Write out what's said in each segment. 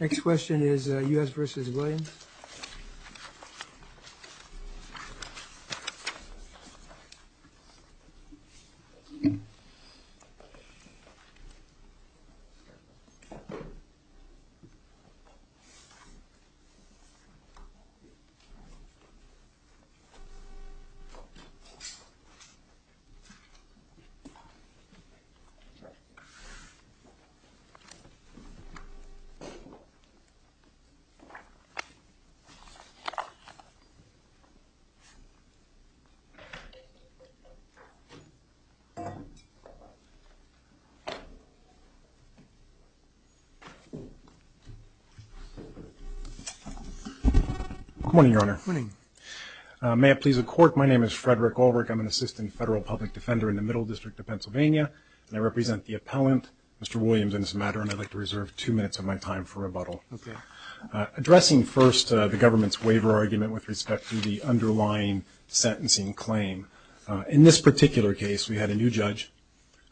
Next question is U.S. v. Williams. Good morning, Your Honor. Good morning. May it please the Court, my name is Frederick Ulrich. I'm an assistant federal public defender in the Middle District of Pennsylvania, and I represent the appellant, Mr. Williams in this matter, and I'd like to reserve two minutes of my time for rebuttal. Okay. Addressing first the government's waiver argument with respect to the underlying sentencing claim, in this particular case we had a new judge,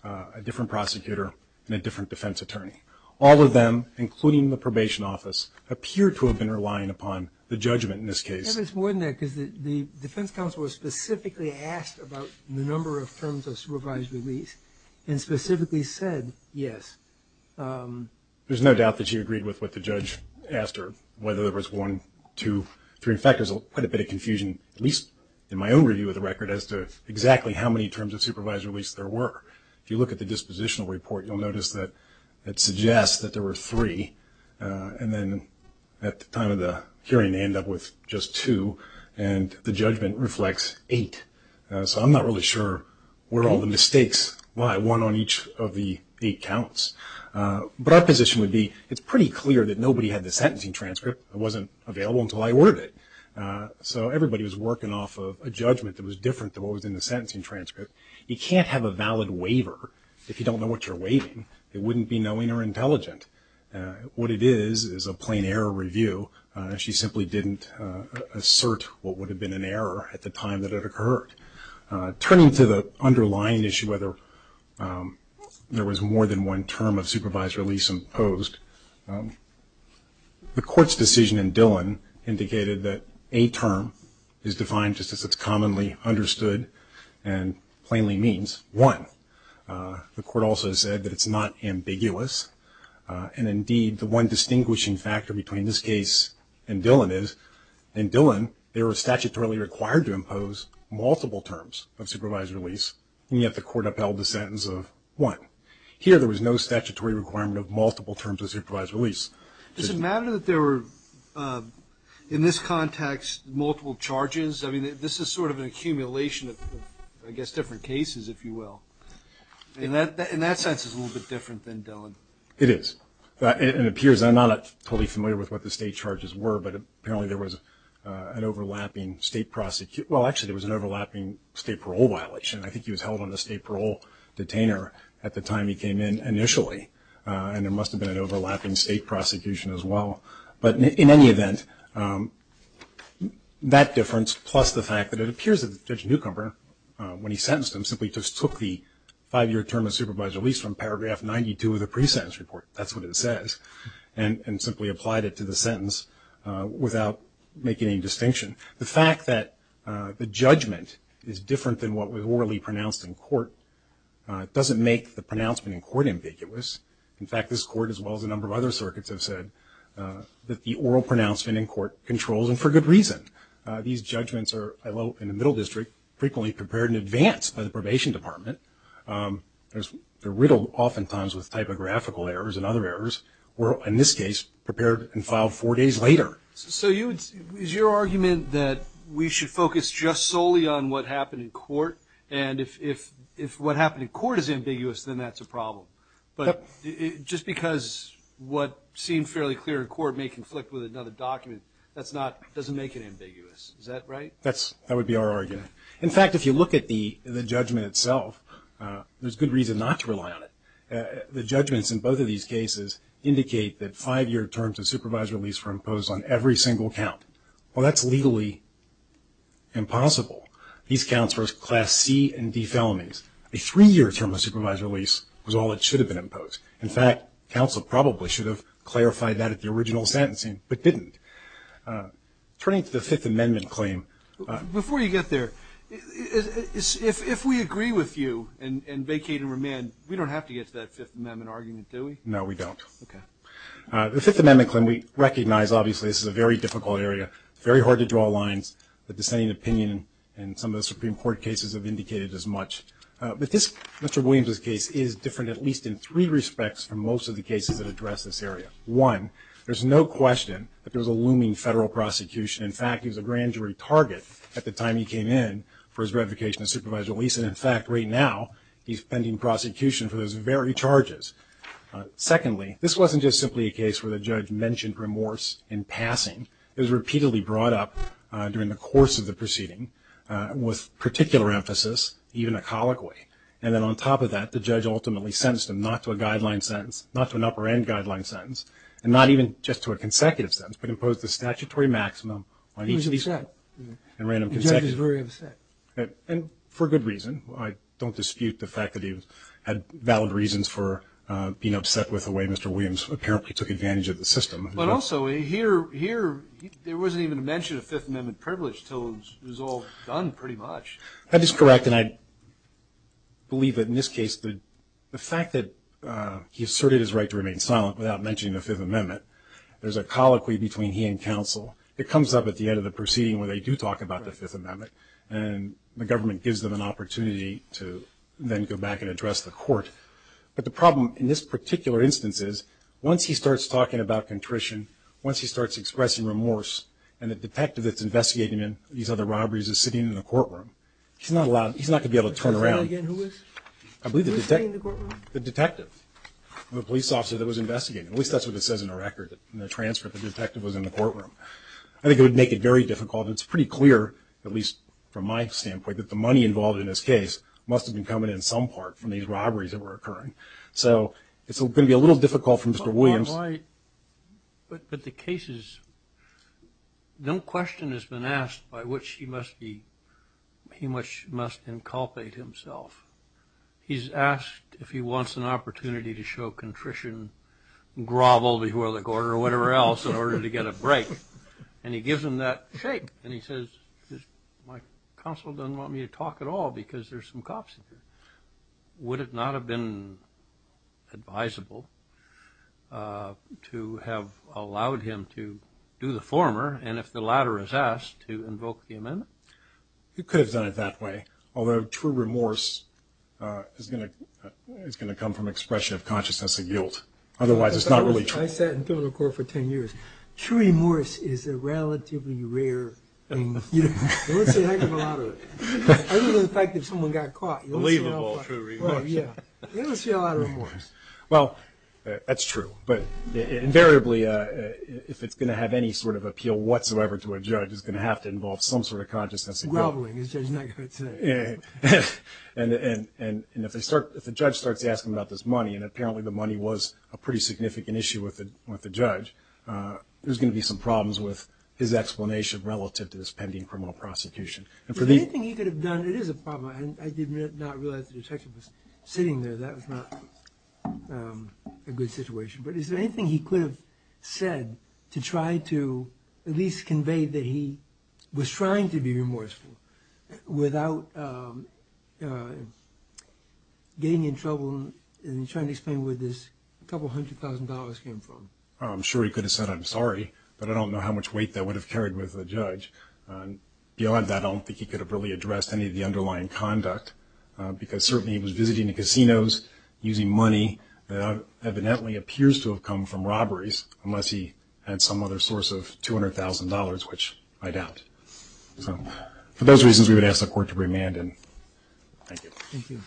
a different prosecutor, and a different defense attorney. All of them, including the probation office, appear to have been relying upon the judgment in this case. Yeah, but it's more than that, because the defense counsel was specifically asked about the number of terms of supervised release and specifically said yes. There's no doubt that she agreed with what the judge asked her, whether there was one, two, three. In fact, there's quite a bit of confusion, at least in my own review of the record, as to exactly how many terms of supervised release there were. If you look at the dispositional report, you'll notice that it suggests that there were three, and then at the time of the hearing they end up with just two, and the judgment reflects eight. So I'm not really sure where all the mistakes lie, one on each of the eight counts. But our position would be it's pretty clear that nobody had the sentencing transcript. It wasn't available until I ordered it. So everybody was working off of a judgment that was different than what was in the sentencing transcript. You can't have a valid waiver if you don't know what you're waiving. It wouldn't be knowing or intelligent. What it is is a plain error review. So she simply didn't assert what would have been an error at the time that it occurred. Turning to the underlying issue, whether there was more than one term of supervised release imposed, the court's decision in Dillon indicated that a term is defined just as it's commonly understood and plainly means one. The court also said that it's not ambiguous. And, indeed, the one distinguishing factor between this case and Dillon is in Dillon they were statutorily required to impose multiple terms of supervised release, and yet the court upheld the sentence of one. Here there was no statutory requirement of multiple terms of supervised release. Does it matter that there were, in this context, multiple charges? I mean, this is sort of an accumulation of, I guess, different cases, if you will. In that sense, it's a little bit different than Dillon. It is. It appears I'm not totally familiar with what the state charges were, but apparently there was an overlapping state prosecution. Well, actually, there was an overlapping state parole violation. I think he was held on the state parole detainer at the time he came in initially, and there must have been an overlapping state prosecution as well. But, in any event, that difference, plus the fact that it appears that the judge newcomer, when he sentenced him, simply just took the five-year term of supervised release from Paragraph 92 of the pre-sentence report, that's what it says, and simply applied it to the sentence without making any distinction. The fact that the judgment is different than what was orally pronounced in court doesn't make the pronouncement in court ambiguous. In fact, this court, as well as a number of other circuits, have said that the oral pronouncement in court controls them for good reason. These judgments are, in the middle district, frequently prepared in advance by the Probation Department. They're riddled oftentimes with typographical errors and other errors, or, in this case, prepared and filed four days later. So is your argument that we should focus just solely on what happened in court, and if what happened in court is ambiguous, then that's a problem? But just because what seemed fairly clear in court may conflict with another document, that doesn't make it ambiguous. Is that right? That would be our argument. In fact, if you look at the judgment itself, there's good reason not to rely on it. The judgments in both of these cases indicate that five-year terms of supervised release were imposed on every single count. Well, that's legally impossible. These counts were Class C and D felonies. A three-year term of supervised release was all that should have been imposed. In fact, counsel probably should have clarified that at the original sentencing, but didn't. Turning to the Fifth Amendment claim. Before you get there, if we agree with you and vacate and remand, we don't have to get to that Fifth Amendment argument, do we? No, we don't. Okay. The Fifth Amendment claim, we recognize, obviously, this is a very difficult area, very hard to draw lines. The dissenting opinion in some of the Supreme Court cases have indicated as much. But Mr. Williams' case is different at least in three respects from most of the cases that address this area. One, there's no question that there was a looming federal prosecution. In fact, he was a grand jury target at the time he came in for his revocation of supervised release. And, in fact, right now, he's pending prosecution for those very charges. Secondly, this wasn't just simply a case where the judge mentioned remorse in passing. It was repeatedly brought up during the course of the proceeding with particular emphasis, even echoically. And then on top of that, the judge ultimately sentenced him not to a guideline sentence, not to an upper-end guideline sentence, and not even just to a consecutive sentence, but imposed a statutory maximum on each of these. He was upset. And ran them consecutively. The judge was very upset. And for good reason. I don't dispute the fact that he had valid reasons for being upset with the way Mr. Williams apparently took advantage of the system. But also, here there wasn't even a mention of Fifth Amendment privilege until it was all done pretty much. That is correct. And I believe that in this case, the fact that he asserted his right to remain silent without mentioning the Fifth Amendment, there's a colloquy between he and counsel that comes up at the end of the proceeding where they do talk about the Fifth Amendment. And the government gives them an opportunity to then go back and address the court. But the problem in this particular instance is once he starts talking about contrition, once he starts expressing remorse, and the detective that's investigating these other robberies is sitting in the courtroom, he's not going to be able to turn around. Who is? I believe the detective. Who's sitting in the courtroom? The detective. The police officer that was investigating. At least that's what it says in the record, in the transcript. The detective was in the courtroom. I think it would make it very difficult. It's pretty clear, at least from my standpoint, that the money involved in this case must have been coming in some part from these robberies that were occurring. So it's going to be a little difficult for Mr. Williams. But the case is, no question has been asked by which he must inculpate himself. He's asked if he wants an opportunity to show contrition, grovel before the court or whatever else in order to get a break. And he gives him that shake. And he says, my counsel doesn't want me to talk at all because there's some cops here. Would it not have been advisable to have allowed him to do the former, and if the latter is asked, to invoke the amendment? He could have done it that way, although true remorse is going to come from expression of consciousness of guilt. Otherwise, it's not really true. I sat in criminal court for 10 years. True remorse is a relatively rare thing. You don't see a heck of a lot of it. Other than the fact that someone got caught. Believe it, all true remorse. Right, yeah. You don't see a lot of remorse. Well, that's true. But invariably, if it's going to have any sort of appeal whatsoever to a judge, it's going to have to involve some sort of consciousness of guilt. Groveling, as Judge Nugget would say. And if the judge starts asking about this money, and apparently the money was a pretty significant issue with the judge, there's going to be some problems with his explanation relative to this pending criminal prosecution. Is there anything he could have done? It is a problem. I did not realize the detective was sitting there. That was not a good situation. But is there anything he could have said to try to at least convey that he was trying to be remorseful without getting in trouble and trying to explain where this couple hundred thousand dollars came from? I'm sure he could have said, I'm sorry, but I don't know how much weight that would have carried with the judge. Beyond that, I don't think he could have really addressed any of the underlying conduct because certainly he was visiting the casinos using money that evidently appears to have come from robberies unless he had some other source of $200,000, which I doubt. So for those reasons, we would ask the Court to remand. Thank you. Thank you.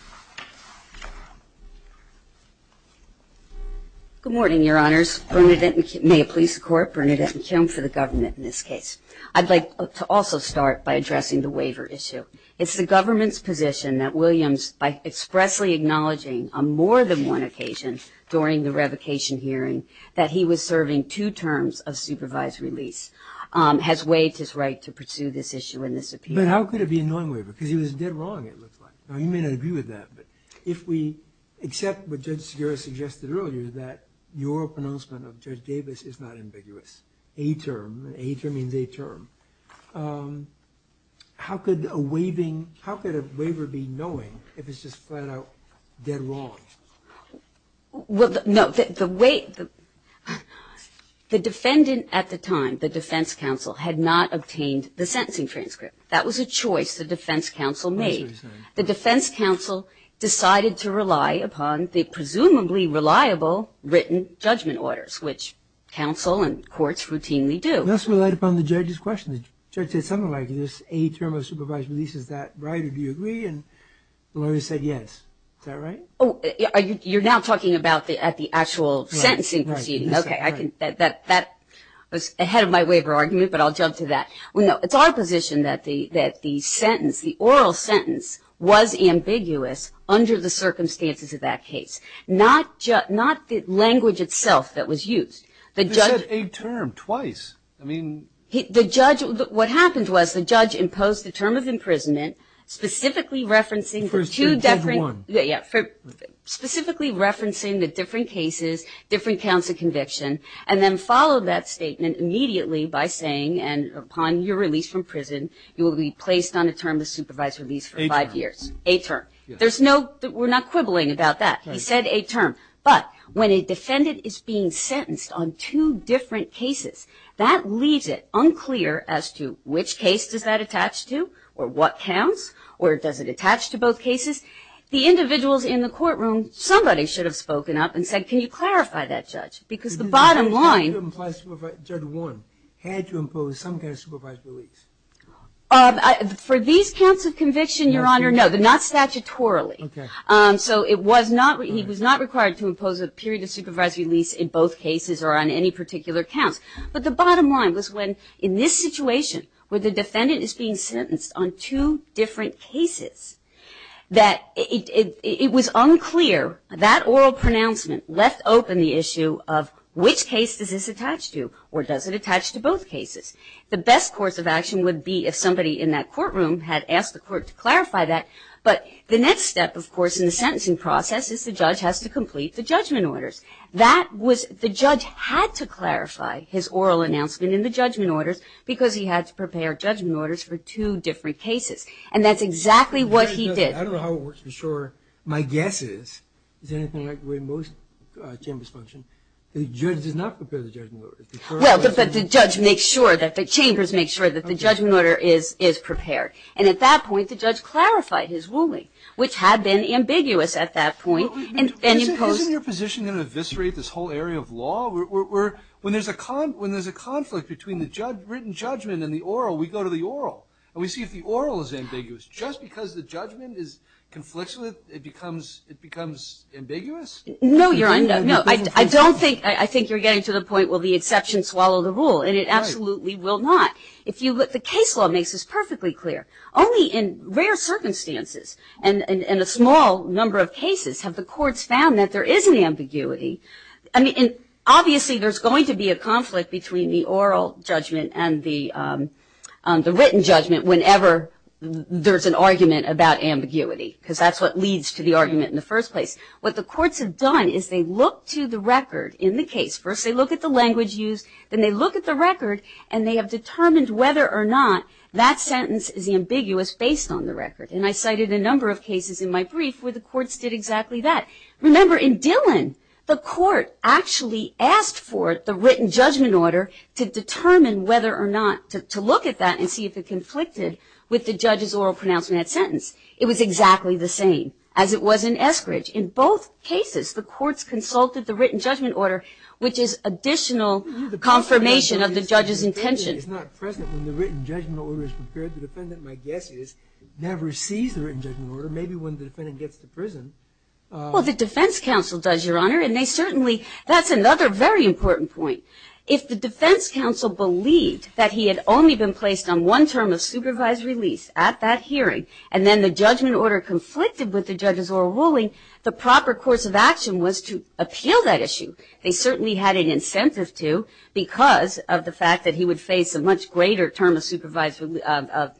Good morning, Your Honors. May it please the Court, Bernadette McKim for the government in this case. I'd like to also start by addressing the waiver issue. It's the government's position that Williams, by expressly acknowledging on more than one occasion during the revocation hearing that he was serving two terms of supervised release, has waived his right to pursue this issue in this appeal. But how could it be a non-waiver? Because he was dead wrong, it looks like. Now, you may not agree with that, but if we accept what Judge Segarra suggested earlier, that your pronouncement of Judge Davis is not ambiguous. It's a term. A term means a term. How could a waiver be knowing if it's just flat-out dead wrong? Well, no. The defendant at the time, the defense counsel, had not obtained the sentencing transcript. That was a choice the defense counsel made. The defense counsel decided to rely upon the presumably reliable written judgment orders, which counsel and courts routinely do. Let's rely upon the judge's question. The judge said something like, is a term of supervised release, is that right? Do you agree? And the lawyer said yes. Is that right? Oh, you're now talking about the actual sentencing proceedings. Okay. That was ahead of my waiver argument, but I'll jump to that. No, it's our position that the sentence, the oral sentence, was ambiguous under the circumstances of that case. Not the language itself that was used. You said a term twice. I mean. The judge, what happened was the judge imposed the term of imprisonment, specifically referencing the two different. Judge one. Specifically referencing the different cases, different counts of conviction, and then followed that statement immediately by saying, and upon your release from prison, A term. A term. There's no, we're not quibbling about that. He said a term. But when a defendant is being sentenced on two different cases, that leaves it unclear as to which case does that attach to, or what counts, or does it attach to both cases. The individuals in the courtroom, somebody should have spoken up and said, can you clarify that, judge? Because the bottom line. Judge one had to impose some kind of supervised release. For these counts of conviction, Your Honor, no. But not statutorily. Okay. So it was not, he was not required to impose a period of supervised release in both cases or on any particular counts. But the bottom line was when, in this situation, where the defendant is being sentenced on two different cases, that it was unclear, that oral pronouncement left open the issue of, which case does this attach to, or does it attach to both cases. The best course of action would be if somebody in that courtroom had asked the court to clarify that. But the next step, of course, in the sentencing process is the judge has to complete the judgment orders. That was, the judge had to clarify his oral announcement in the judgment orders because he had to prepare judgment orders for two different cases. And that's exactly what he did. I don't know how it works for sure. My guess is, is anything like the way most chambers function, the judge does not prepare the judgment orders. Well, but the judge makes sure that, the chambers make sure that the judgment order is prepared. And at that point, the judge clarified his ruling, which had been ambiguous at that point. Isn't your position going to eviscerate this whole area of law? When there's a conflict between the written judgment and the oral, we go to the oral. And we see if the oral is ambiguous. Just because the judgment is conflicted, it becomes ambiguous? No, Your Honor. I don't think, I think you're getting to the point, will the exception swallow the rule? And it absolutely will not. If you look, the case law makes this perfectly clear. Only in rare circumstances, and in a small number of cases, have the courts found that there is an ambiguity. I mean, obviously there's going to be a conflict between the oral judgment and the written judgment whenever there's an argument about ambiguity. Because that's what leads to the argument in the first place. What the courts have done is they look to the record in the case. First they look at the language used. Then they look at the record, and they have determined whether or not that sentence is ambiguous based on the record. And I cited a number of cases in my brief where the courts did exactly that. Remember, in Dillon, the court actually asked for the written judgment order to determine whether or not to look at that and see if it conflicted with the judge's oral pronouncement of that sentence. It was exactly the same as it was in Eskridge. In both cases, the courts consulted the written judgment order, which is additional confirmation of the judge's intention. It's not present when the written judgment order is prepared. The defendant, my guess is, never sees the written judgment order. Maybe when the defendant gets to prison. Well, the defense counsel does, Your Honor. And they certainly – that's another very important point. If the defense counsel believed that he had only been placed on one term of supervised release at that hearing, and then the judgment order conflicted with the judge's oral ruling, the proper course of action was to appeal that issue. They certainly had an incentive to because of the fact that he would face a much greater term of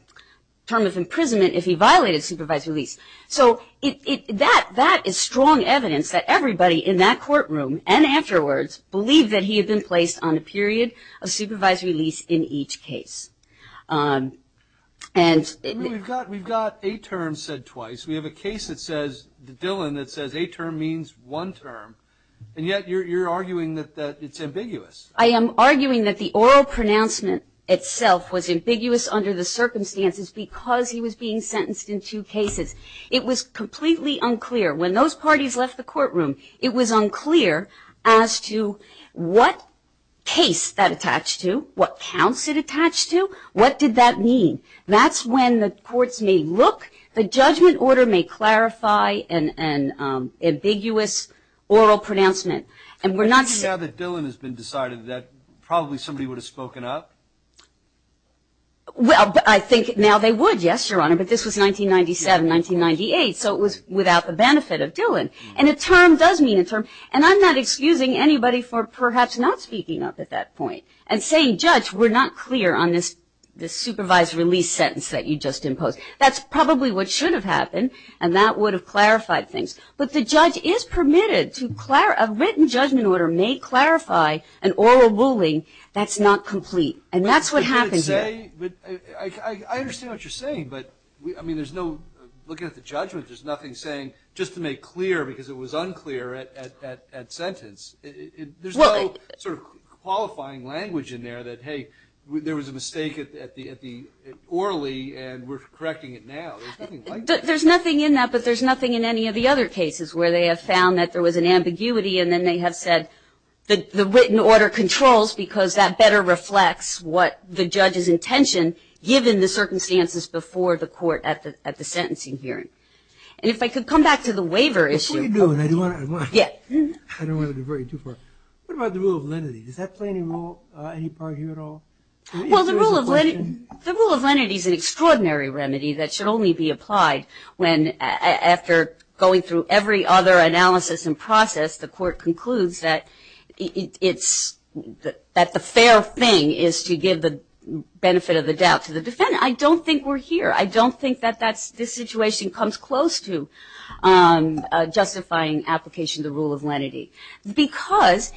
imprisonment if he violated supervised release. So that is strong evidence that everybody in that courtroom and afterwards believed that he had been placed on a period of supervised release in each case. We've got a term said twice. We have a case that says – Dillon that says a term means one term. And yet you're arguing that it's ambiguous. I am arguing that the oral pronouncement itself was ambiguous under the circumstances because he was being sentenced in two cases. It was completely unclear. When those parties left the courtroom, it was unclear as to what case that attached to, what counts it attached to, what did that mean. That's when the courts may look. The judgment order may clarify an ambiguous oral pronouncement. And we're not – Now that Dillon has been decided that probably somebody would have spoken up? Well, I think now they would, yes, Your Honor, but this was 1997, 1998, so it was without the benefit of Dillon. And a term does mean a term. And I'm not excusing anybody for perhaps not speaking up at that point and saying, Judge, we're not clear on this supervised release sentence that you just imposed. That's probably what should have happened, and that would have clarified things. But the judge is permitted to – a written judgment order may clarify an oral ruling that's not complete. And that's what happened here. I understand what you're saying, but, I mean, there's no – looking at the judgment, there's nothing saying just to make clear because it was unclear at sentence. There's no sort of qualifying language in there that, hey, there was a mistake at the orally and we're correcting it now. There's nothing like that. There's nothing in that, but there's nothing in any of the other cases where they have found that there was an ambiguity and then they have said the written order controls because that better reflects what the judge's intention, given the circumstances before the court at the sentencing hearing. And if I could come back to the waiver issue. That's what you're doing. I don't want to go too far. What about the rule of lenity? Does that play any role, any part here at all? Well, the rule of lenity is an extraordinary remedy that should only be applied when after going through every other analysis and process, the court concludes that the fair thing is to give the benefit of the doubt to the defendant. I don't think we're here. I don't think that this situation comes close to justifying application of the rule of lenity because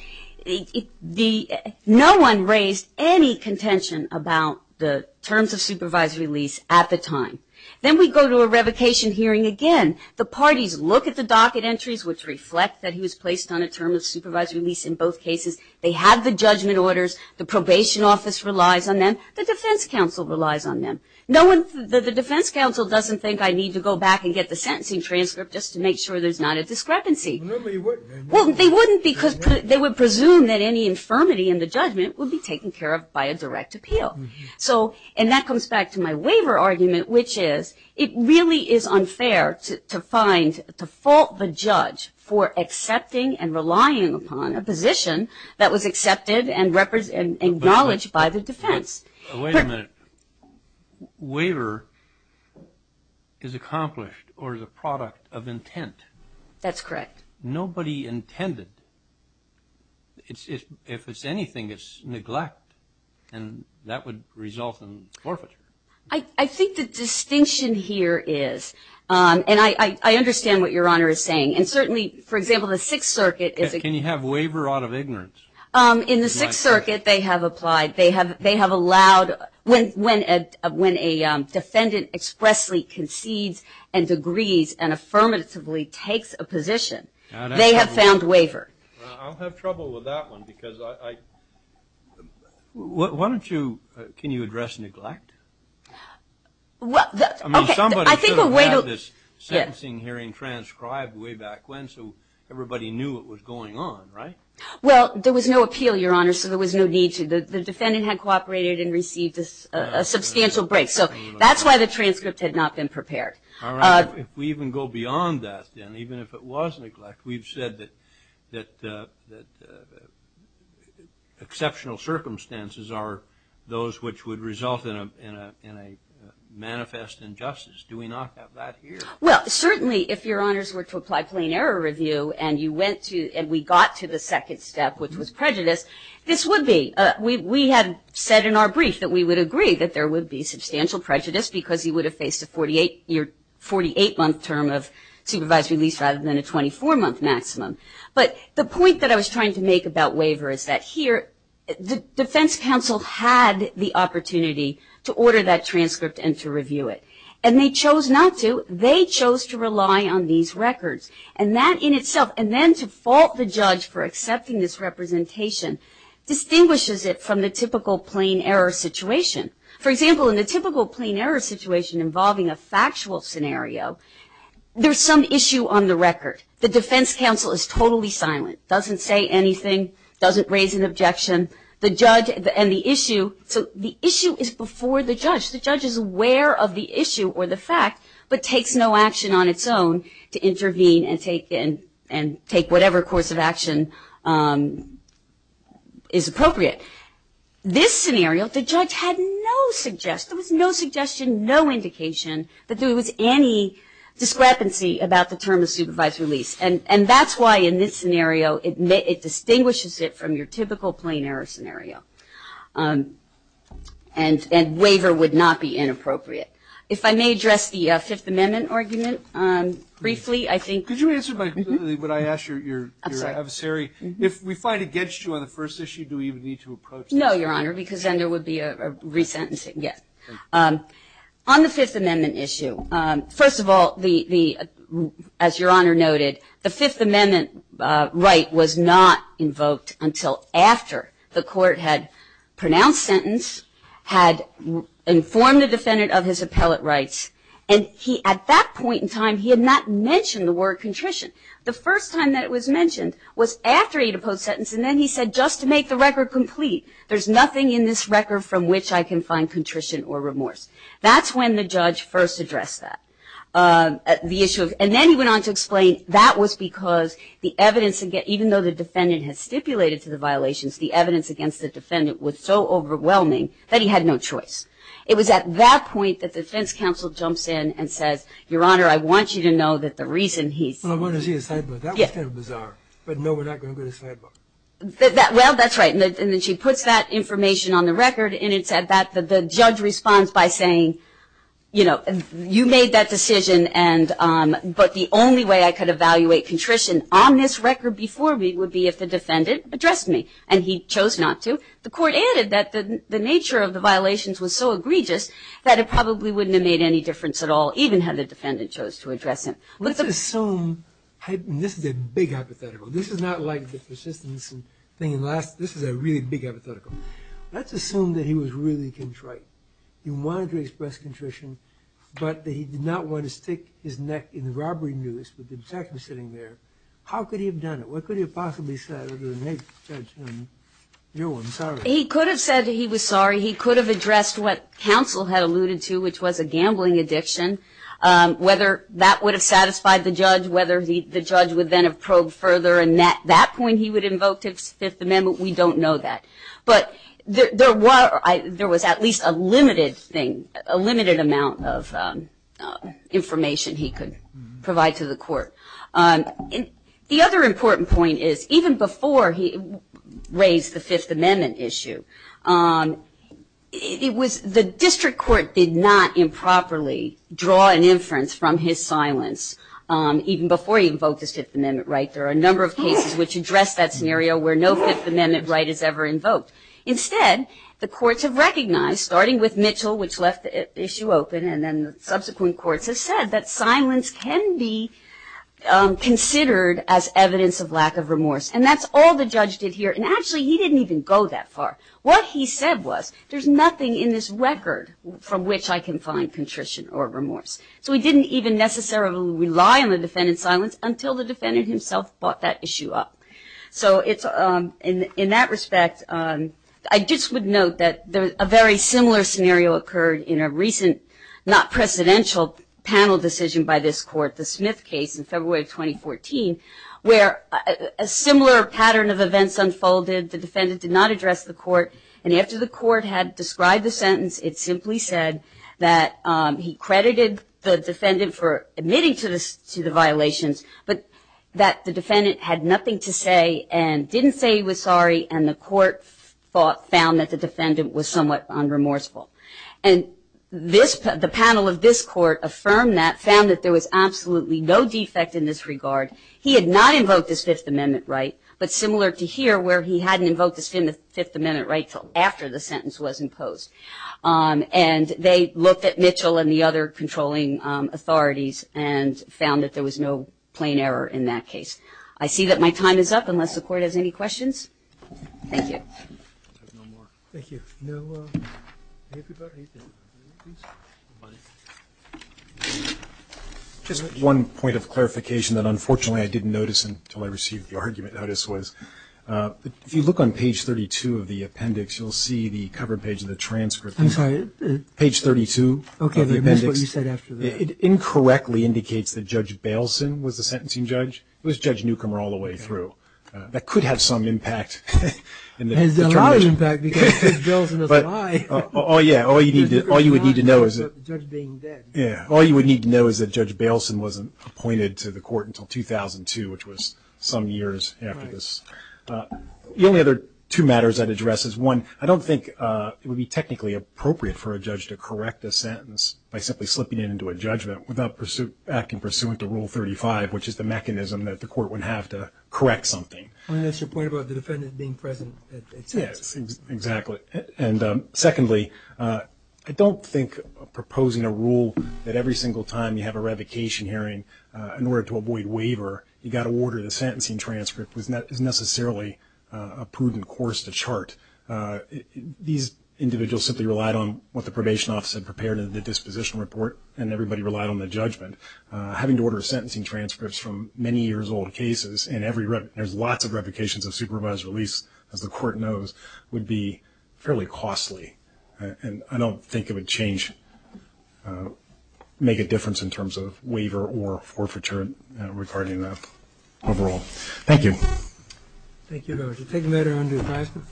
no one raised any contention about the terms of supervisory release at the time. Then we go to a revocation hearing again. The parties look at the docket entries, which reflect that he was placed on a term of supervisory release in both cases. They have the judgment orders. The probation office relies on them. The defense counsel relies on them. The defense counsel doesn't think I need to go back and get the sentencing transcript just to make sure there's not a discrepancy. Well, they wouldn't because they would presume that any infirmity in the judgment would be taken care of by a direct appeal. And that comes back to my waiver argument, which is it really is unfair to fault the judge for accepting and relying upon a position that was accepted and acknowledged by the defense. Wait a minute. Waiver is accomplished or is a product of intent. That's correct. Nobody intended. If it's anything, it's neglect, and that would result in forfeiture. I think the distinction here is, and I understand what Your Honor is saying, and certainly, for example, the Sixth Circuit is a- Can you have waiver out of ignorance? In the Sixth Circuit, they have applied. They have allowed, when a defendant expressly concedes and agrees and affirmatively takes a position, they have found waiver. I'll have trouble with that one because I- Why don't you, can you address neglect? I mean, somebody should have had this sentencing hearing transcribed way back when so everybody knew it was going on, right? Well, there was no appeal, Your Honor, so there was no need to. The defendant had cooperated and received a substantial break, so that's why the transcript had not been prepared. All right. If we even go beyond that then, even if it was neglect, we've said that exceptional circumstances are those which would result in a manifest injustice. Do we not have that here? Well, certainly, if Your Honors were to apply plain error review and we got to the second step, which was prejudice, this would be. We had said in our brief that we would agree that there would be substantial prejudice because he would have faced a 48-month term of supervised release rather than a 24-month maximum. But the point that I was trying to make about waiver is that here, the defense counsel had the opportunity to order that transcript and to review it. And they chose not to. They chose to rely on these records. And that in itself, and then to fault the judge for accepting this representation, distinguishes it from the typical plain error situation. For example, in the typical plain error situation involving a factual scenario, there's some issue on the record. The defense counsel is totally silent, doesn't say anything, doesn't raise an objection. The judge and the issue, so the issue is before the judge. The judge is aware of the issue or the fact, but takes no action on its own to intervene and take whatever course of action is appropriate. This scenario, the judge had no suggestions, no suggestion, no indication that there was any discrepancy about the term of supervised release. And that's why in this scenario it distinguishes it from your typical plain error scenario. And waiver would not be inappropriate. If I may address the Fifth Amendment argument briefly, I think. Could you answer my question when I ask your adversary? If we fight against you on the first issue, do we even need to approach this? No, Your Honor, because then there would be a resentencing. Yes. On the Fifth Amendment issue, first of all, as Your Honor noted, the Fifth Amendment right was not invoked until after the court had pronounced had informed the defendant of his appellate rights, and at that point in time he had not mentioned the word contrition. The first time that it was mentioned was after he had opposed the sentence, and then he said just to make the record complete, there's nothing in this record from which I can find contrition or remorse. That's when the judge first addressed that. And then he went on to explain that was because the evidence, even though the defendant had stipulated to the violations, the evidence against the defendant was so overwhelming that he had no choice. It was at that point that the defense counsel jumps in and says, Your Honor, I want you to know that the reason he's- Well, I want to see the sidebar. That was kind of bizarre. But no, we're not going to go to the sidebar. Well, that's right, and then she puts that information on the record, and it said that the judge responds by saying, you know, you made that decision, but the only way I could evaluate contrition on this record before me would be if the defendant addressed me, and he chose not to. The court added that the nature of the violations was so egregious that it probably wouldn't have made any difference at all, even had the defendant chose to address him. Let's assume, and this is a big hypothetical. This is not like the persistence thing. This is a really big hypothetical. Let's assume that he was really contrite. He wanted to express contrition, but that he did not want to stick his neck in the robbery news with the detective sitting there. How could he have done it? What could he have possibly said to the next judge? You know, I'm sorry. He could have said he was sorry. He could have addressed what counsel had alluded to, which was a gambling addiction, whether that would have satisfied the judge, whether the judge would then have probed further, and at that point he would have invoked his Fifth Amendment. We don't know that. But there was at least a limited thing, a limited amount of information he could provide to the court. The other important point is, even before he raised the Fifth Amendment issue, the district court did not improperly draw an inference from his silence, even before he invoked his Fifth Amendment right. There are a number of cases which address that scenario where no Fifth Amendment right is ever invoked. Instead, the courts have recognized, starting with Mitchell, which left the issue open, and then subsequent courts have said that silence can be considered as evidence of lack of remorse. And that's all the judge did here. And actually, he didn't even go that far. What he said was, there's nothing in this record from which I can find contrition or remorse. So he didn't even necessarily rely on the defendant's silence until the defendant himself brought that issue up. So in that respect, I just would note that a very similar scenario occurred in a recent, not precedential panel decision by this court, the Smith case in February of 2014, where a similar pattern of events unfolded. The defendant did not address the court. And after the court had described the sentence, it simply said that he credited the defendant for admitting to the violations, but that the defendant had nothing to say and didn't say he was sorry, and the court found that the defendant was somewhat unremorseful. And the panel of this court affirmed that, found that there was absolutely no defect in this regard. He had not invoked his Fifth Amendment right, but similar to here where he hadn't invoked his Fifth Amendment right until after the sentence was imposed. And they looked at Mitchell and the other controlling authorities and found that there was no plain error in that case. I see that my time is up, unless the court has any questions. Thank you. I have no more. Thank you. No. Anybody? Anybody, please? Just one point of clarification that, unfortunately, I didn't notice until I received the argument notice was, if you look on page 32 of the appendix, you'll see the cover page of the transcript. I'm sorry. Page 32 of the appendix. Okay. That's what you said after that. It incorrectly indicates that Judge Baleson was the sentencing judge. It was Judge Newcomer all the way through. That could have some impact. It has a lot of impact because Judge Baleson doesn't lie. Oh, yeah. All you would need to know is that Judge Baleson wasn't appointed to the court until 2002, which was some years after this. The only other two matters I'd address is, one, I don't think it would be technically appropriate for a judge to correct a sentence by simply slipping it into a judgment without acting pursuant to Rule 35, which is the mechanism that the court would have to correct something. That's your point about the defendant being present. Yes, exactly. And, secondly, I don't think proposing a rule that every single time you have a revocation hearing, in order to avoid waiver, you've got to order the sentencing transcript is necessarily a prudent course to chart. These individuals simply relied on what the probation office had prepared in the disposition report, and everybody relied on the judgment. Having to order sentencing transcripts from many years-old cases, and there's lots of revocations of supervised release, as the court knows, would be fairly costly. And I don't think it would make a difference in terms of waiver or forfeiture regarding that overall. Thank you. Thank you.